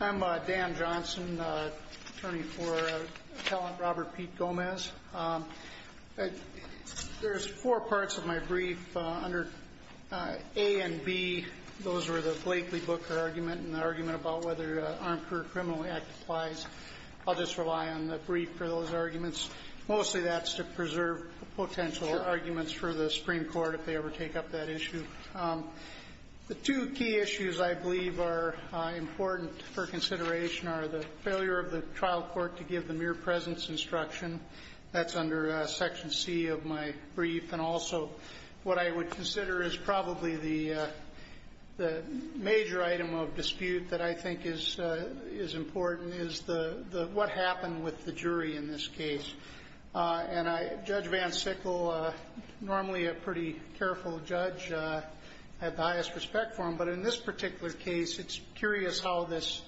I'm Dan Johnson, attorney for Robert Pete Gomez. There's four parts of my brief under A and B. Those were the Blakely Booker argument and the argument about whether the Armed Career Criminals Act applies. I'll just rely on the brief for those arguments. Mostly that's to preserve potential arguments for the Supreme Court if they ever take up that issue. The two key issues I believe are important for consideration are the failure of the trial court to give the mere presence instruction. That's under section C of my brief. And also what I would consider is probably the major item of dispute that I think is important is what happened with the jury in this case. Judge Van Sickle, normally a pretty careful judge, had the highest respect for him. But in this particular case, it's curious how this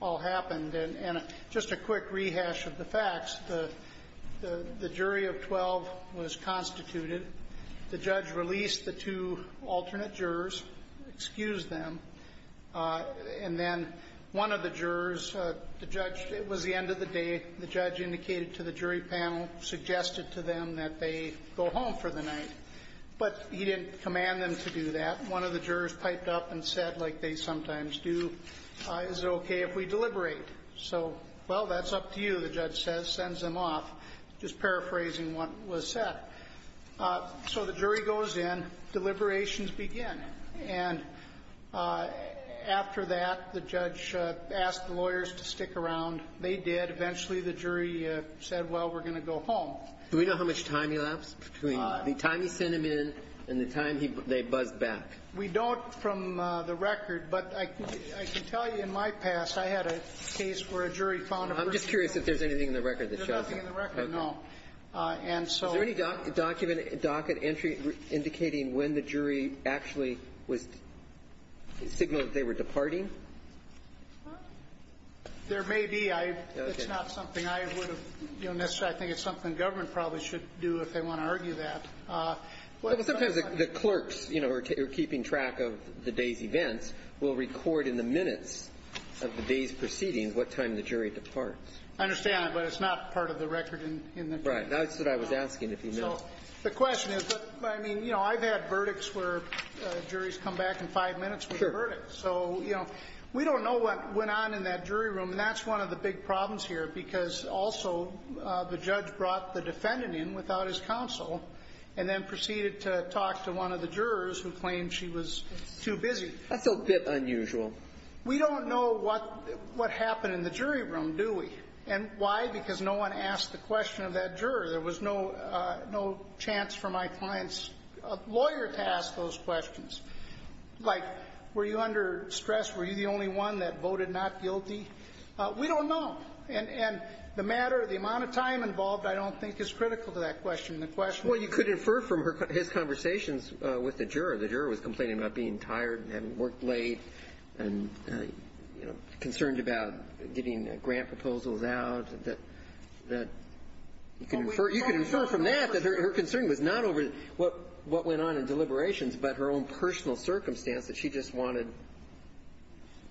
all happened. And just a quick rehash of the facts, the jury of 12 was constituted. The judge released the two alternate jurors, excused them. And then one of the jurors, the judge, it was the end of the day, the judge indicated to the jury panel, suggested to them that they go home for the night. But he didn't command them to do that. One of the jurors piped up and said, like they sometimes do, is it okay if we deliberate? So, well, that's up to you, the judge says, sends them off, just paraphrasing what was said. So the jury goes in, deliberations begin. And after that, the judge asked the lawyers to stick around. They did. Eventually, the jury said, well, we're going to go home. Do we know how much time elapsed between the time he sent them in and the time they buzzed back? We don't from the record, but I can tell you in my past, I had a case where a jury found a person. I'm just curious if there's anything in the record that shows that. There's nothing in the record, no. And so there's no evidence. Is there any docket entry indicating when the jury actually was signaling that they were departing? There may be. It's not something I would have, you know, necessarily, I think it's something government probably should do if they want to argue that. Well, sometimes the clerks, you know, are keeping track of the day's events, will record in the minutes of the day's proceedings what time the jury departs. I understand that, but it's not part of the record in the jury. Right. That's what I was asking, if you know. So the question is, I mean, you know, I've had verdicts where juries come back in five minutes with a verdict. So, you know, we don't know what went on in that jury room. And that's one of the big problems here, because also the judge brought the defendant in without his counsel and then proceeded to talk to one of the jurors who claimed she was too busy. That's a bit unusual. We don't know what happened in the jury room, do we? And why? Because no one asked the question of that juror. There was no chance for my client's lawyer to ask those questions. Like, were you under stress? Were you the only one that voted not guilty? We don't know. And the matter, the amount of time involved, I don't think is critical to that question. The question is the jury. Well, you could infer from his conversations with the juror, the juror was complaining about being tired, having worked late, and, you know, concerned about getting grant proposals out, that you can infer. You can infer from that that her concern was not over what went on in deliberations, but her own personal circumstance, that she just wanted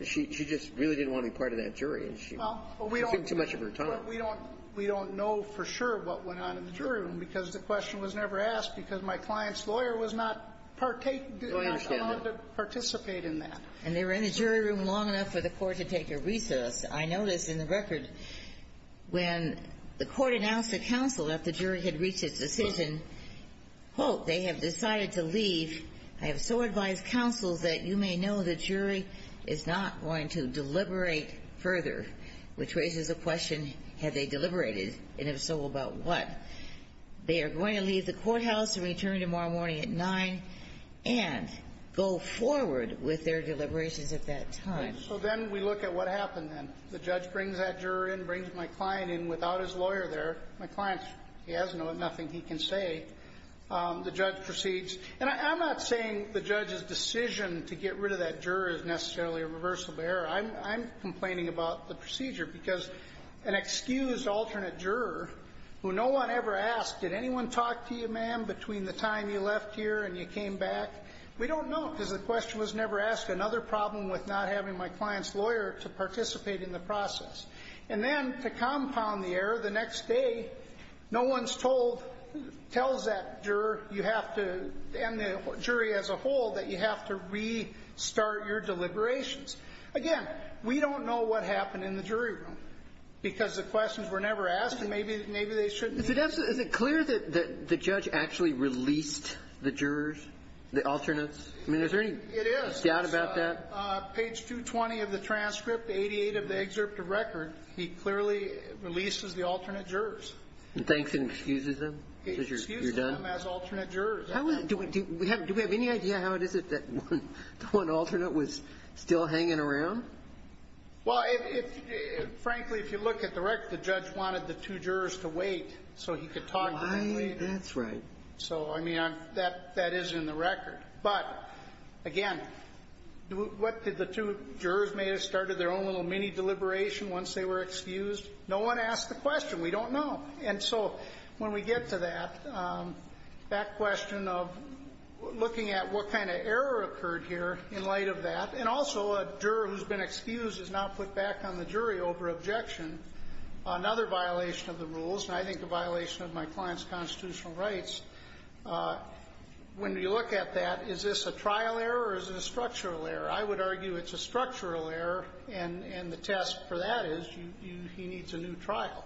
to be part of that jury. She took too much of her time. Well, we don't know for sure what went on in the jury room, because the question was never asked, because my client's lawyer was not allowed to participate in that. And they were in the jury room long enough for the court to take a recess. I noticed in the record, when the court announced to counsel that the jury had reached its decision, quote, they have decided to leave, I have so advised counsel that you may know the jury is not going to deliberate further, which raises a question, have they deliberated, and if so, about what? They are going to leave the courthouse and return tomorrow morning at 9 and go forward with their deliberations at that time. So then we look at what happened then. The judge brings that juror in, brings my client in without his lawyer there. My client, he has nothing he can say. The judge proceeds. And I'm not saying the judge's decision to get rid of that juror is necessarily a reversible error. I'm complaining about the procedure, because an excused alternate juror, who no one ever asked, did anyone talk to you, ma'am, between the time you left here and you came back? We don't know, because the question was never asked, another problem with not having my client's lawyer to participate in the process. And then to compound the error, the next day, no one's told, tells that juror, you have to, and the jury as a whole, that you have to restart your deliberations. Again, we don't know what happened in the jury room, because the questions were never asked, and maybe they shouldn't have. Is it clear that the judge actually released the jurors, the alternates? It is. Page 220 of the transcript, 88 of the excerpt of record, he clearly releases the alternate jurors. He thinks and excuses them? He excuses them as alternate jurors. Do we have any idea how it is that one alternate was still hanging around? Well, frankly, if you look at the record, the judge wanted the two jurors to wait, so he could talk to them later. That's right. So, I mean, that is in the record. But, again, what did the two jurors may have started their own little mini-deliberation once they were excused? No one asked the question. We don't know. And so, when we get to that, that question of looking at what kind of error occurred here in light of that, and also a juror who's been excused is now put back on the jury over objection, another violation of the rules, and I think a violation of my client's constitutional rights, when you look at that, is this a trial error or is it a structural error? I would argue it's a structural error, and the test for that is he needs a new trial.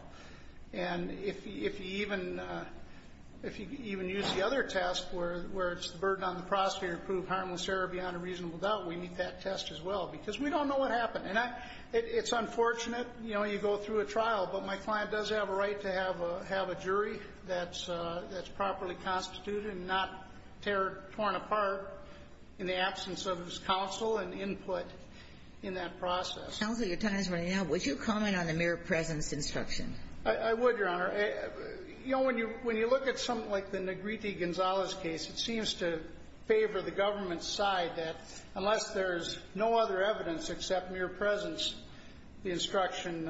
And if you even use the other test, where it's the burden on the prosecutor to prove harmless error beyond a reasonable doubt, we meet that test as well, because we don't know what happened. And it's unfortunate, you know, you go through a trial, but my client does have a right to have a jury that's properly constituted and not torn apart in the absence of his counsel and input in that process. Counsel, your time is running out. Would you comment on the mere presence instruction? I would, Your Honor. You know, when you look at something like the Negriti-Gonzalez case, it seems to favor the government's side that unless there's no other evidence except mere presence, the instruction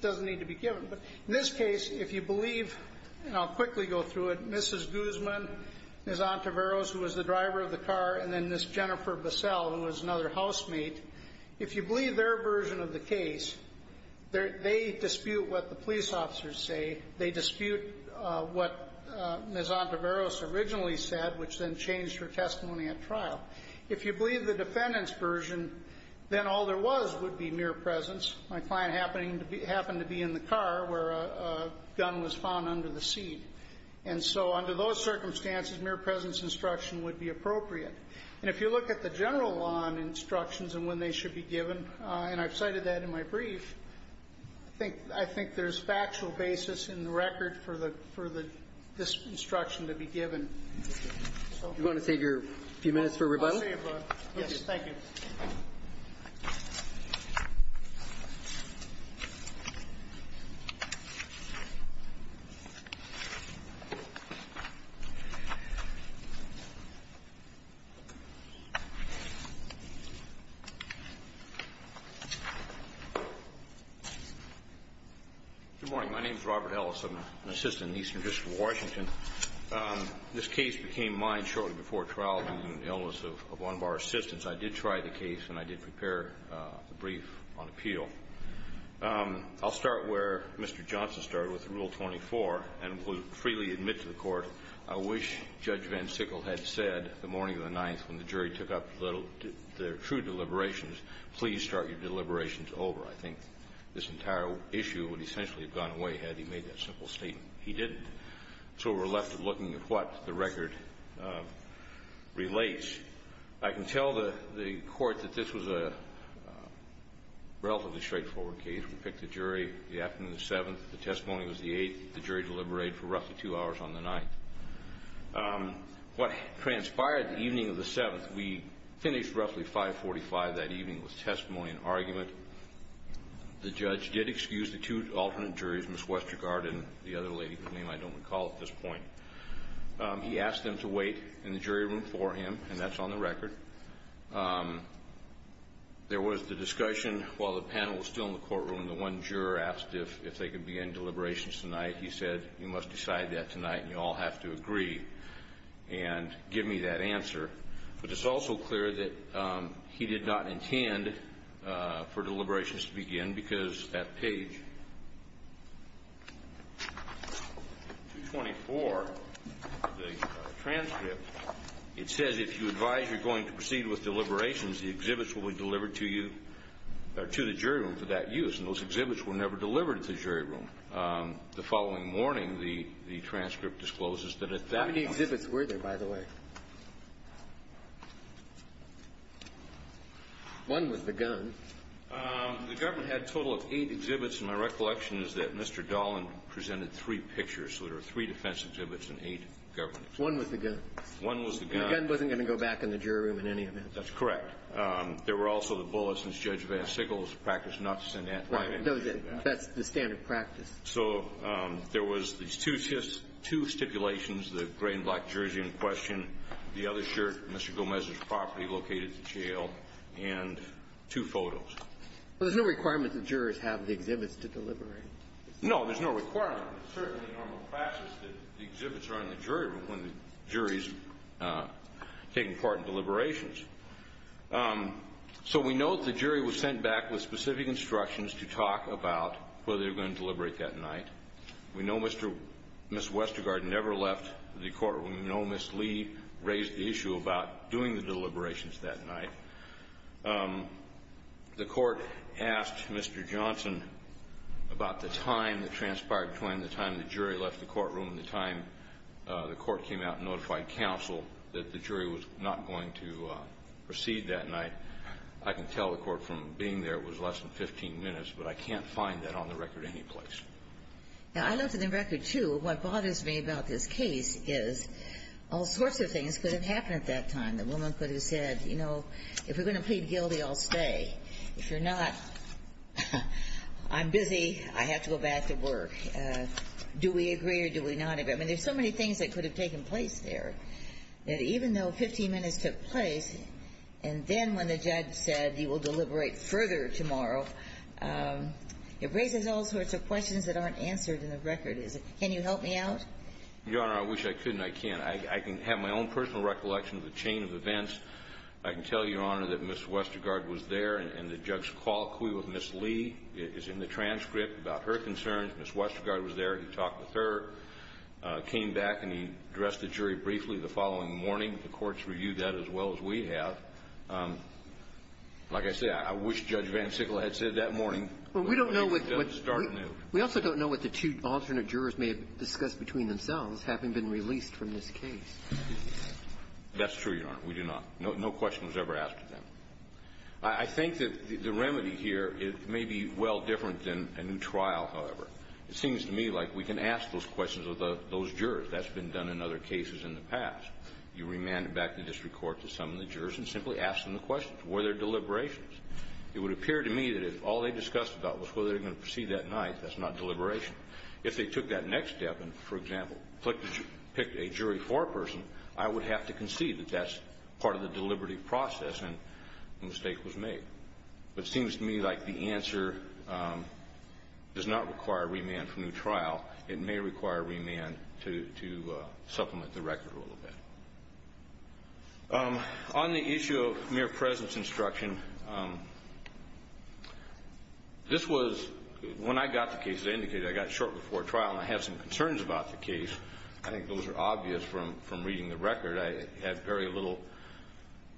doesn't need to be given. But in this case, if you believe, and I'll quickly go through it, Mrs. Guzman, Ms. Ontiveros, who was the driver of the car, and then Ms. Jennifer Bissell, who was another housemate, if you believe their version of the case, they dispute what the police officers say. They dispute what Ms. If you believe the defendant's version, then all there was would be mere presence. My client happened to be in the car where a gun was found under the seat. And so under those circumstances, mere presence instruction would be appropriate. And if you look at the general law instructions and when they should be given, and I've cited that in my brief, I think there's factual basis in the record for this instruction to be given. Do you want to take a few minutes for rebuttal? I'll see you, bud. Yes, thank you. Good morning. My name's Robert Ellis. I'm an assistant in the Eastern District of Washington. This case became mine shortly before trial due to an illness of one of our assistants. I did try the case, and I did prepare a brief on appeal. I'll start where Mr. Johnson started with Rule 24 and will freely admit to the court, I wish Judge Van Sickle had said the morning of the 9th when the jury took up their true deliberations, please start your deliberations over. I think this entire issue would essentially have gone away had he made that simple statement. He didn't. So we're left looking at what the record relates. I can tell the court that this was a relatively straightforward case. We picked the jury the afternoon of the 7th. The testimony was the 8th. The jury deliberated for roughly two hours on the 9th. What transpired the evening of the 7th, we finished roughly 545 that evening with testimony and argument. The judge did excuse the two alternate juries, Ms. Westergaard and the other lady whose name I don't recall at this point. He asked them to wait in the jury room for him, and that's on the record. There was the discussion while the panel was still in the courtroom. The one juror asked if they could begin deliberations tonight. He said, you must decide that tonight, and you all have to agree and give me that answer. But it's also clear that he did not intend for deliberations to begin because that was the case. In 224, the transcript, it says if you advise you're going to proceed with deliberations, the exhibits will be delivered to you, or to the jury room for that use. And those exhibits were never delivered to the jury room. The following morning, the transcript discloses that at that point. How many exhibits were there, by the way? One was the gun. The government had a total of eight exhibits, and my recollection is that Mr. Gomez had a total of eight exhibits. So there are three defense exhibits and eight government exhibits. One was the gun. One was the gun. The gun wasn't going to go back in the jury room in any event. That's correct. There were also the bullets, and Judge VanSickle's practice not to send that. Right. That was it. That's the standard practice. So there was these two stipulations, the gray and black jersey in question, the other shirt, Mr. Gomez's property located at the jail, and two photos. Well, there's no requirement that jurors have the exhibits to deliberate. No, there's no requirement. It's certainly a normal practice that the exhibits are in the jury room when the jury's taking part in deliberations. So we know that the jury was sent back with specific instructions to talk about whether they were going to deliberate that night. We know Ms. Westergaard never left the court. We know Ms. Lee raised the issue about doing the deliberations that night. The court asked Mr. Johnson about the time that transpired between the time the jury left the courtroom and the time the court came out and notified counsel that the jury was not going to proceed that night. I can tell the court from being there it was less than 15 minutes, but I can't find that on the record any place. Now, I looked at the record, too. What bothers me about this case is all sorts of things could have happened at that time. The woman could have said, you know, if you're going to plead guilty, I'll stay. If you're not, I'm busy. I have to go back to work. Do we agree or do we not agree? I mean, there's so many things that could have taken place there that even though 15 minutes took place and then when the judge said you will deliberate further tomorrow, it raises all sorts of questions that aren't answered in the record. Can you help me out? Your Honor, I wish I could and I can't. I can have my own personal recollection of the chain of events. I can tell you, Your Honor, that Ms. Westergaard was there and the judge's colloquy with Ms. Lee is in the transcript about her concerns. Ms. Westergaard was there. He talked with her, came back, and he addressed the jury briefly the following morning. The courts reviewed that as well as we have. Like I said, I wish Judge VanSickle had said that morning. But we don't know what the two alternate jurors may have discussed between themselves having been released from this case. That's true, Your Honor. We do not. No question was ever asked of them. I think that the remedy here may be well different than a new trial, however. It seems to me like we can ask those questions of those jurors. That's been done in other cases in the past. You remanded back to the district court to some of the jurors and simply asked them the questions. Were there deliberations? It would appear to me that if all they discussed about was whether they were going to proceed that night, that's not deliberation. If they took that next step and, for example, picked a jury for a person, I would have to concede that that's part of the deliberative process and the mistake was made. But it seems to me like the answer does not require remand for a new trial. It may require remand to supplement the record a little bit. On the issue of mere presence instruction, this was when I got the case, as I got short before trial, and I had some concerns about the case. I think those are obvious from reading the record. I had very little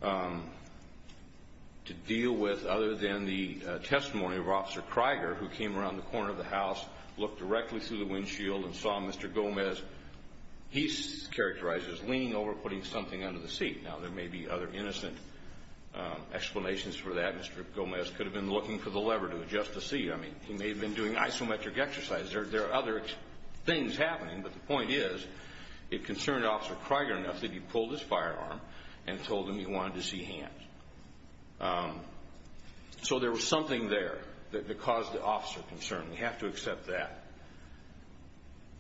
to deal with other than the testimony of Officer Krieger, who came around the corner of the house, looked directly through the windshield, and saw Mr. Gomez. He's characterized as leaning over, putting something under the seat. Now, there may be other innocent explanations for that. Mr. Gomez could have been looking for the lever to adjust the seat. I mean, he may have been doing isometric exercise. There are other things happening, but the point is, it concerned Officer Krieger enough that he pulled his firearm and told him he wanted to see hands. So there was something there that caused the officer concern. We have to accept that.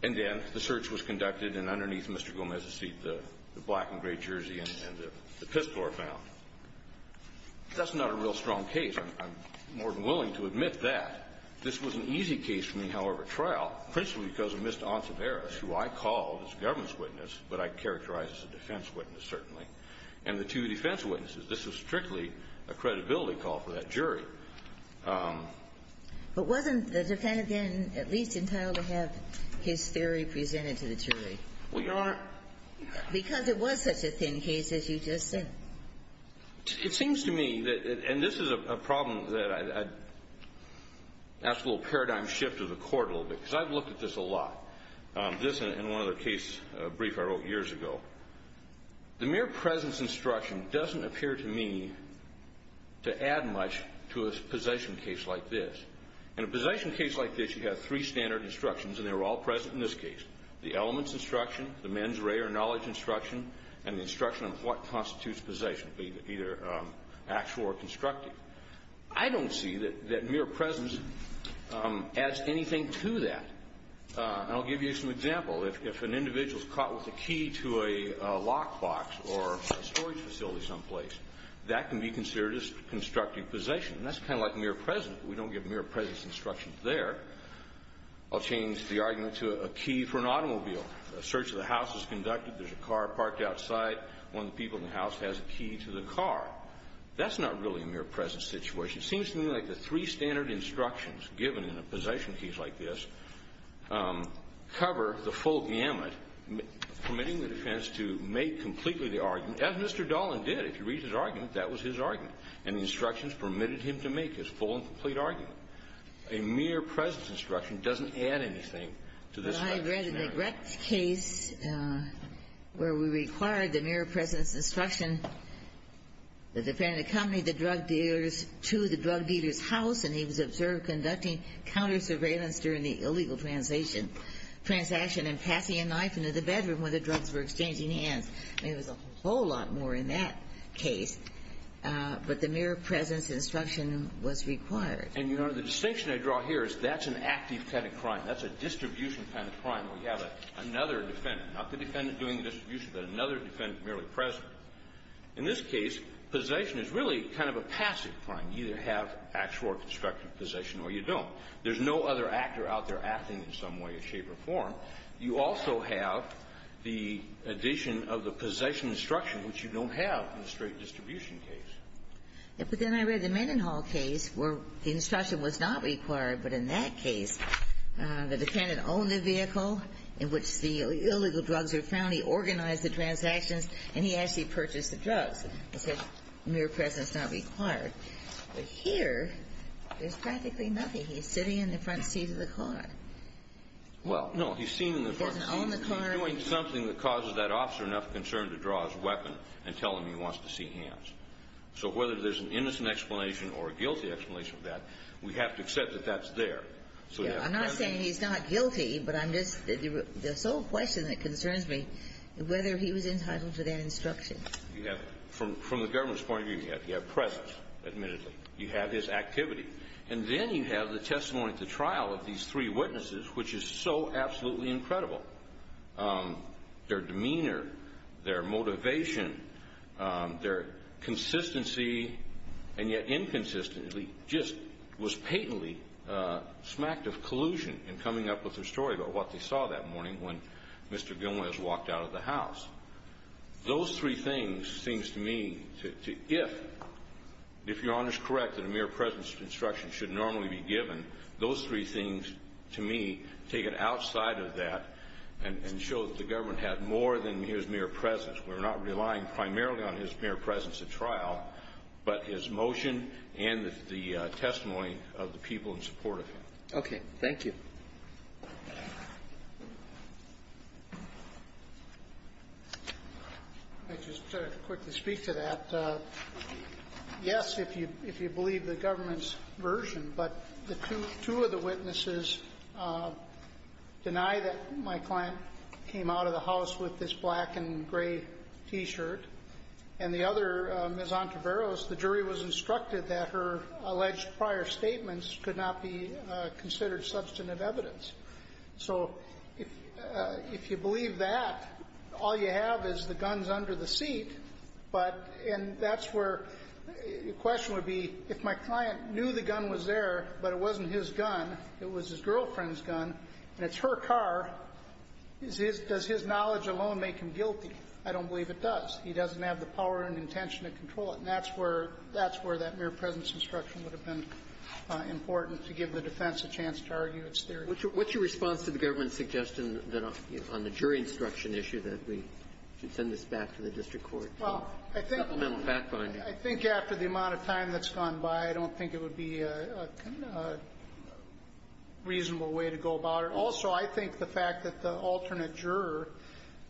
And then the search was conducted, and underneath Mr. Gomez's seat, the black and gray jersey and the pistol were found. That's not a real strong case. I'm more than willing to admit that. This was an easy case for me, however, at trial, principally because of Mr. Ontiveris, who I called as a government witness, but I characterize as a defense witness, certainly, and the two defense witnesses. This was strictly a credibility call for that jury. But wasn't the defendant, then, at least entitled to have his theory presented to the jury? Well, Your Honor ---- Because it was such a thin case, as you just said. It seems to me that ---- and this is a problem that I'd ask a little paradigm shift of the court a little bit, because I've looked at this a lot. This and one other case brief I wrote years ago. The mere presence instruction doesn't appear to me to add much to a possession case like this. In a possession case like this, you have three standard instructions, and they were all present in this case. The elements instruction, the mens rea or knowledge instruction, and the constitutes possession, either actual or constructive. I don't see that mere presence adds anything to that. And I'll give you some example. If an individual is caught with a key to a lockbox or a storage facility someplace, that can be considered as constructive possession. And that's kind of like mere presence. We don't give mere presence instructions there. I'll change the argument to a key for an automobile. A search of the house is conducted. There's a car parked outside. One of the people in the house has a key to the car. That's not really a mere presence situation. It seems to me like the three standard instructions given in a possession case like this cover the full gamut, permitting the defense to make completely the argument, as Mr. Dolan did. If you read his argument, that was his argument. And the instructions permitted him to make his full and complete argument. A mere presence instruction doesn't add anything to this. I read in the Gretz case where we required the mere presence instruction that the defendant accompanied the drug dealers to the drug dealer's house. And he was observed conducting counter-surveillance during the illegal transaction and passing a knife into the bedroom where the drugs were exchanging hands. I mean, it was a whole lot more in that case. But the mere presence instruction was required. And, Your Honor, the distinction I draw here is that's an active kind of crime. That's a distribution kind of crime where you have another defendant, not the defendant doing the distribution, but another defendant merely present. In this case, possession is really kind of a passive crime. You either have actual or constructive possession, or you don't. There's no other actor out there acting in some way, shape, or form. You also have the addition of the possession instruction, which you don't have in a straight distribution case. But then I read the Mendenhall case where the instruction was not required. But in that case, the defendant owned the vehicle in which the illegal drugs were found. He organized the transactions, and he actually purchased the drugs. It says mere presence not required. But here, there's practically nothing. He's sitting in the front seat of the car. Well, no. He's seen in the front seat. He doesn't own the car. He's doing something that causes that officer enough concern to draw his weapon and tell him he wants to see hands. So whether there's an innocent explanation or a guilty explanation of that, we have to accept that that's there. I'm not saying he's not guilty, but the sole question that concerns me is whether he was entitled to that instruction. From the government's point of view, you have presence, admittedly. You have his activity. And then you have the testimony at the trial of these three witnesses, which is so absolutely incredible. Their demeanor, their motivation, their consistency, and yet inconsistency just was patently smacked of collusion in coming up with their story about what they saw that morning when Mr. Gilmour has walked out of the house. Those three things seems to me, if Your Honor's correct that a mere presence instruction should normally be given, those three things, to me, take it outside of that and show that the government had more than his mere presence. We're not relying primarily on his mere presence at trial, but his motion and the people in support of him. Okay. Thank you. Let me just quickly speak to that. Yes, if you believe the government's version, but the two of the witnesses deny that my client came out of the house with this black and gray T-shirt, and the other, Ms. Ontiveros, the jury was instructed that her alleged prior statements could not be considered substantive evidence. So if you believe that, all you have is the guns under the seat, but that's where the question would be, if my client knew the gun was there, but it wasn't his gun, it was his girlfriend's gun, and it's her car, does his knowledge alone make him guilty? I don't believe it does. He doesn't have the power and intention to control it. And that's where that mere presence instruction would have been important to give the defense a chance to argue its theory. What's your response to the government's suggestion that on the jury instruction issue that we should send this back to the district court for supplemental fact-finding? I think after the amount of time that's gone by, I don't think it would be a reasonable way to go about it. Also, I think the fact that the alternate juror,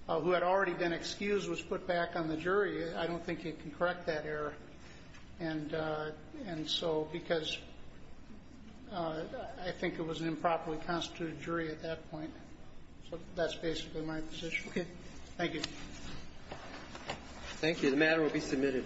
who had already been excused, was put back on the jury, I don't think it can correct that error. And so because I think it was an improperly constituted jury at that point. So that's basically my position. Okay. Thank you. Thank you. The matter will be submitted.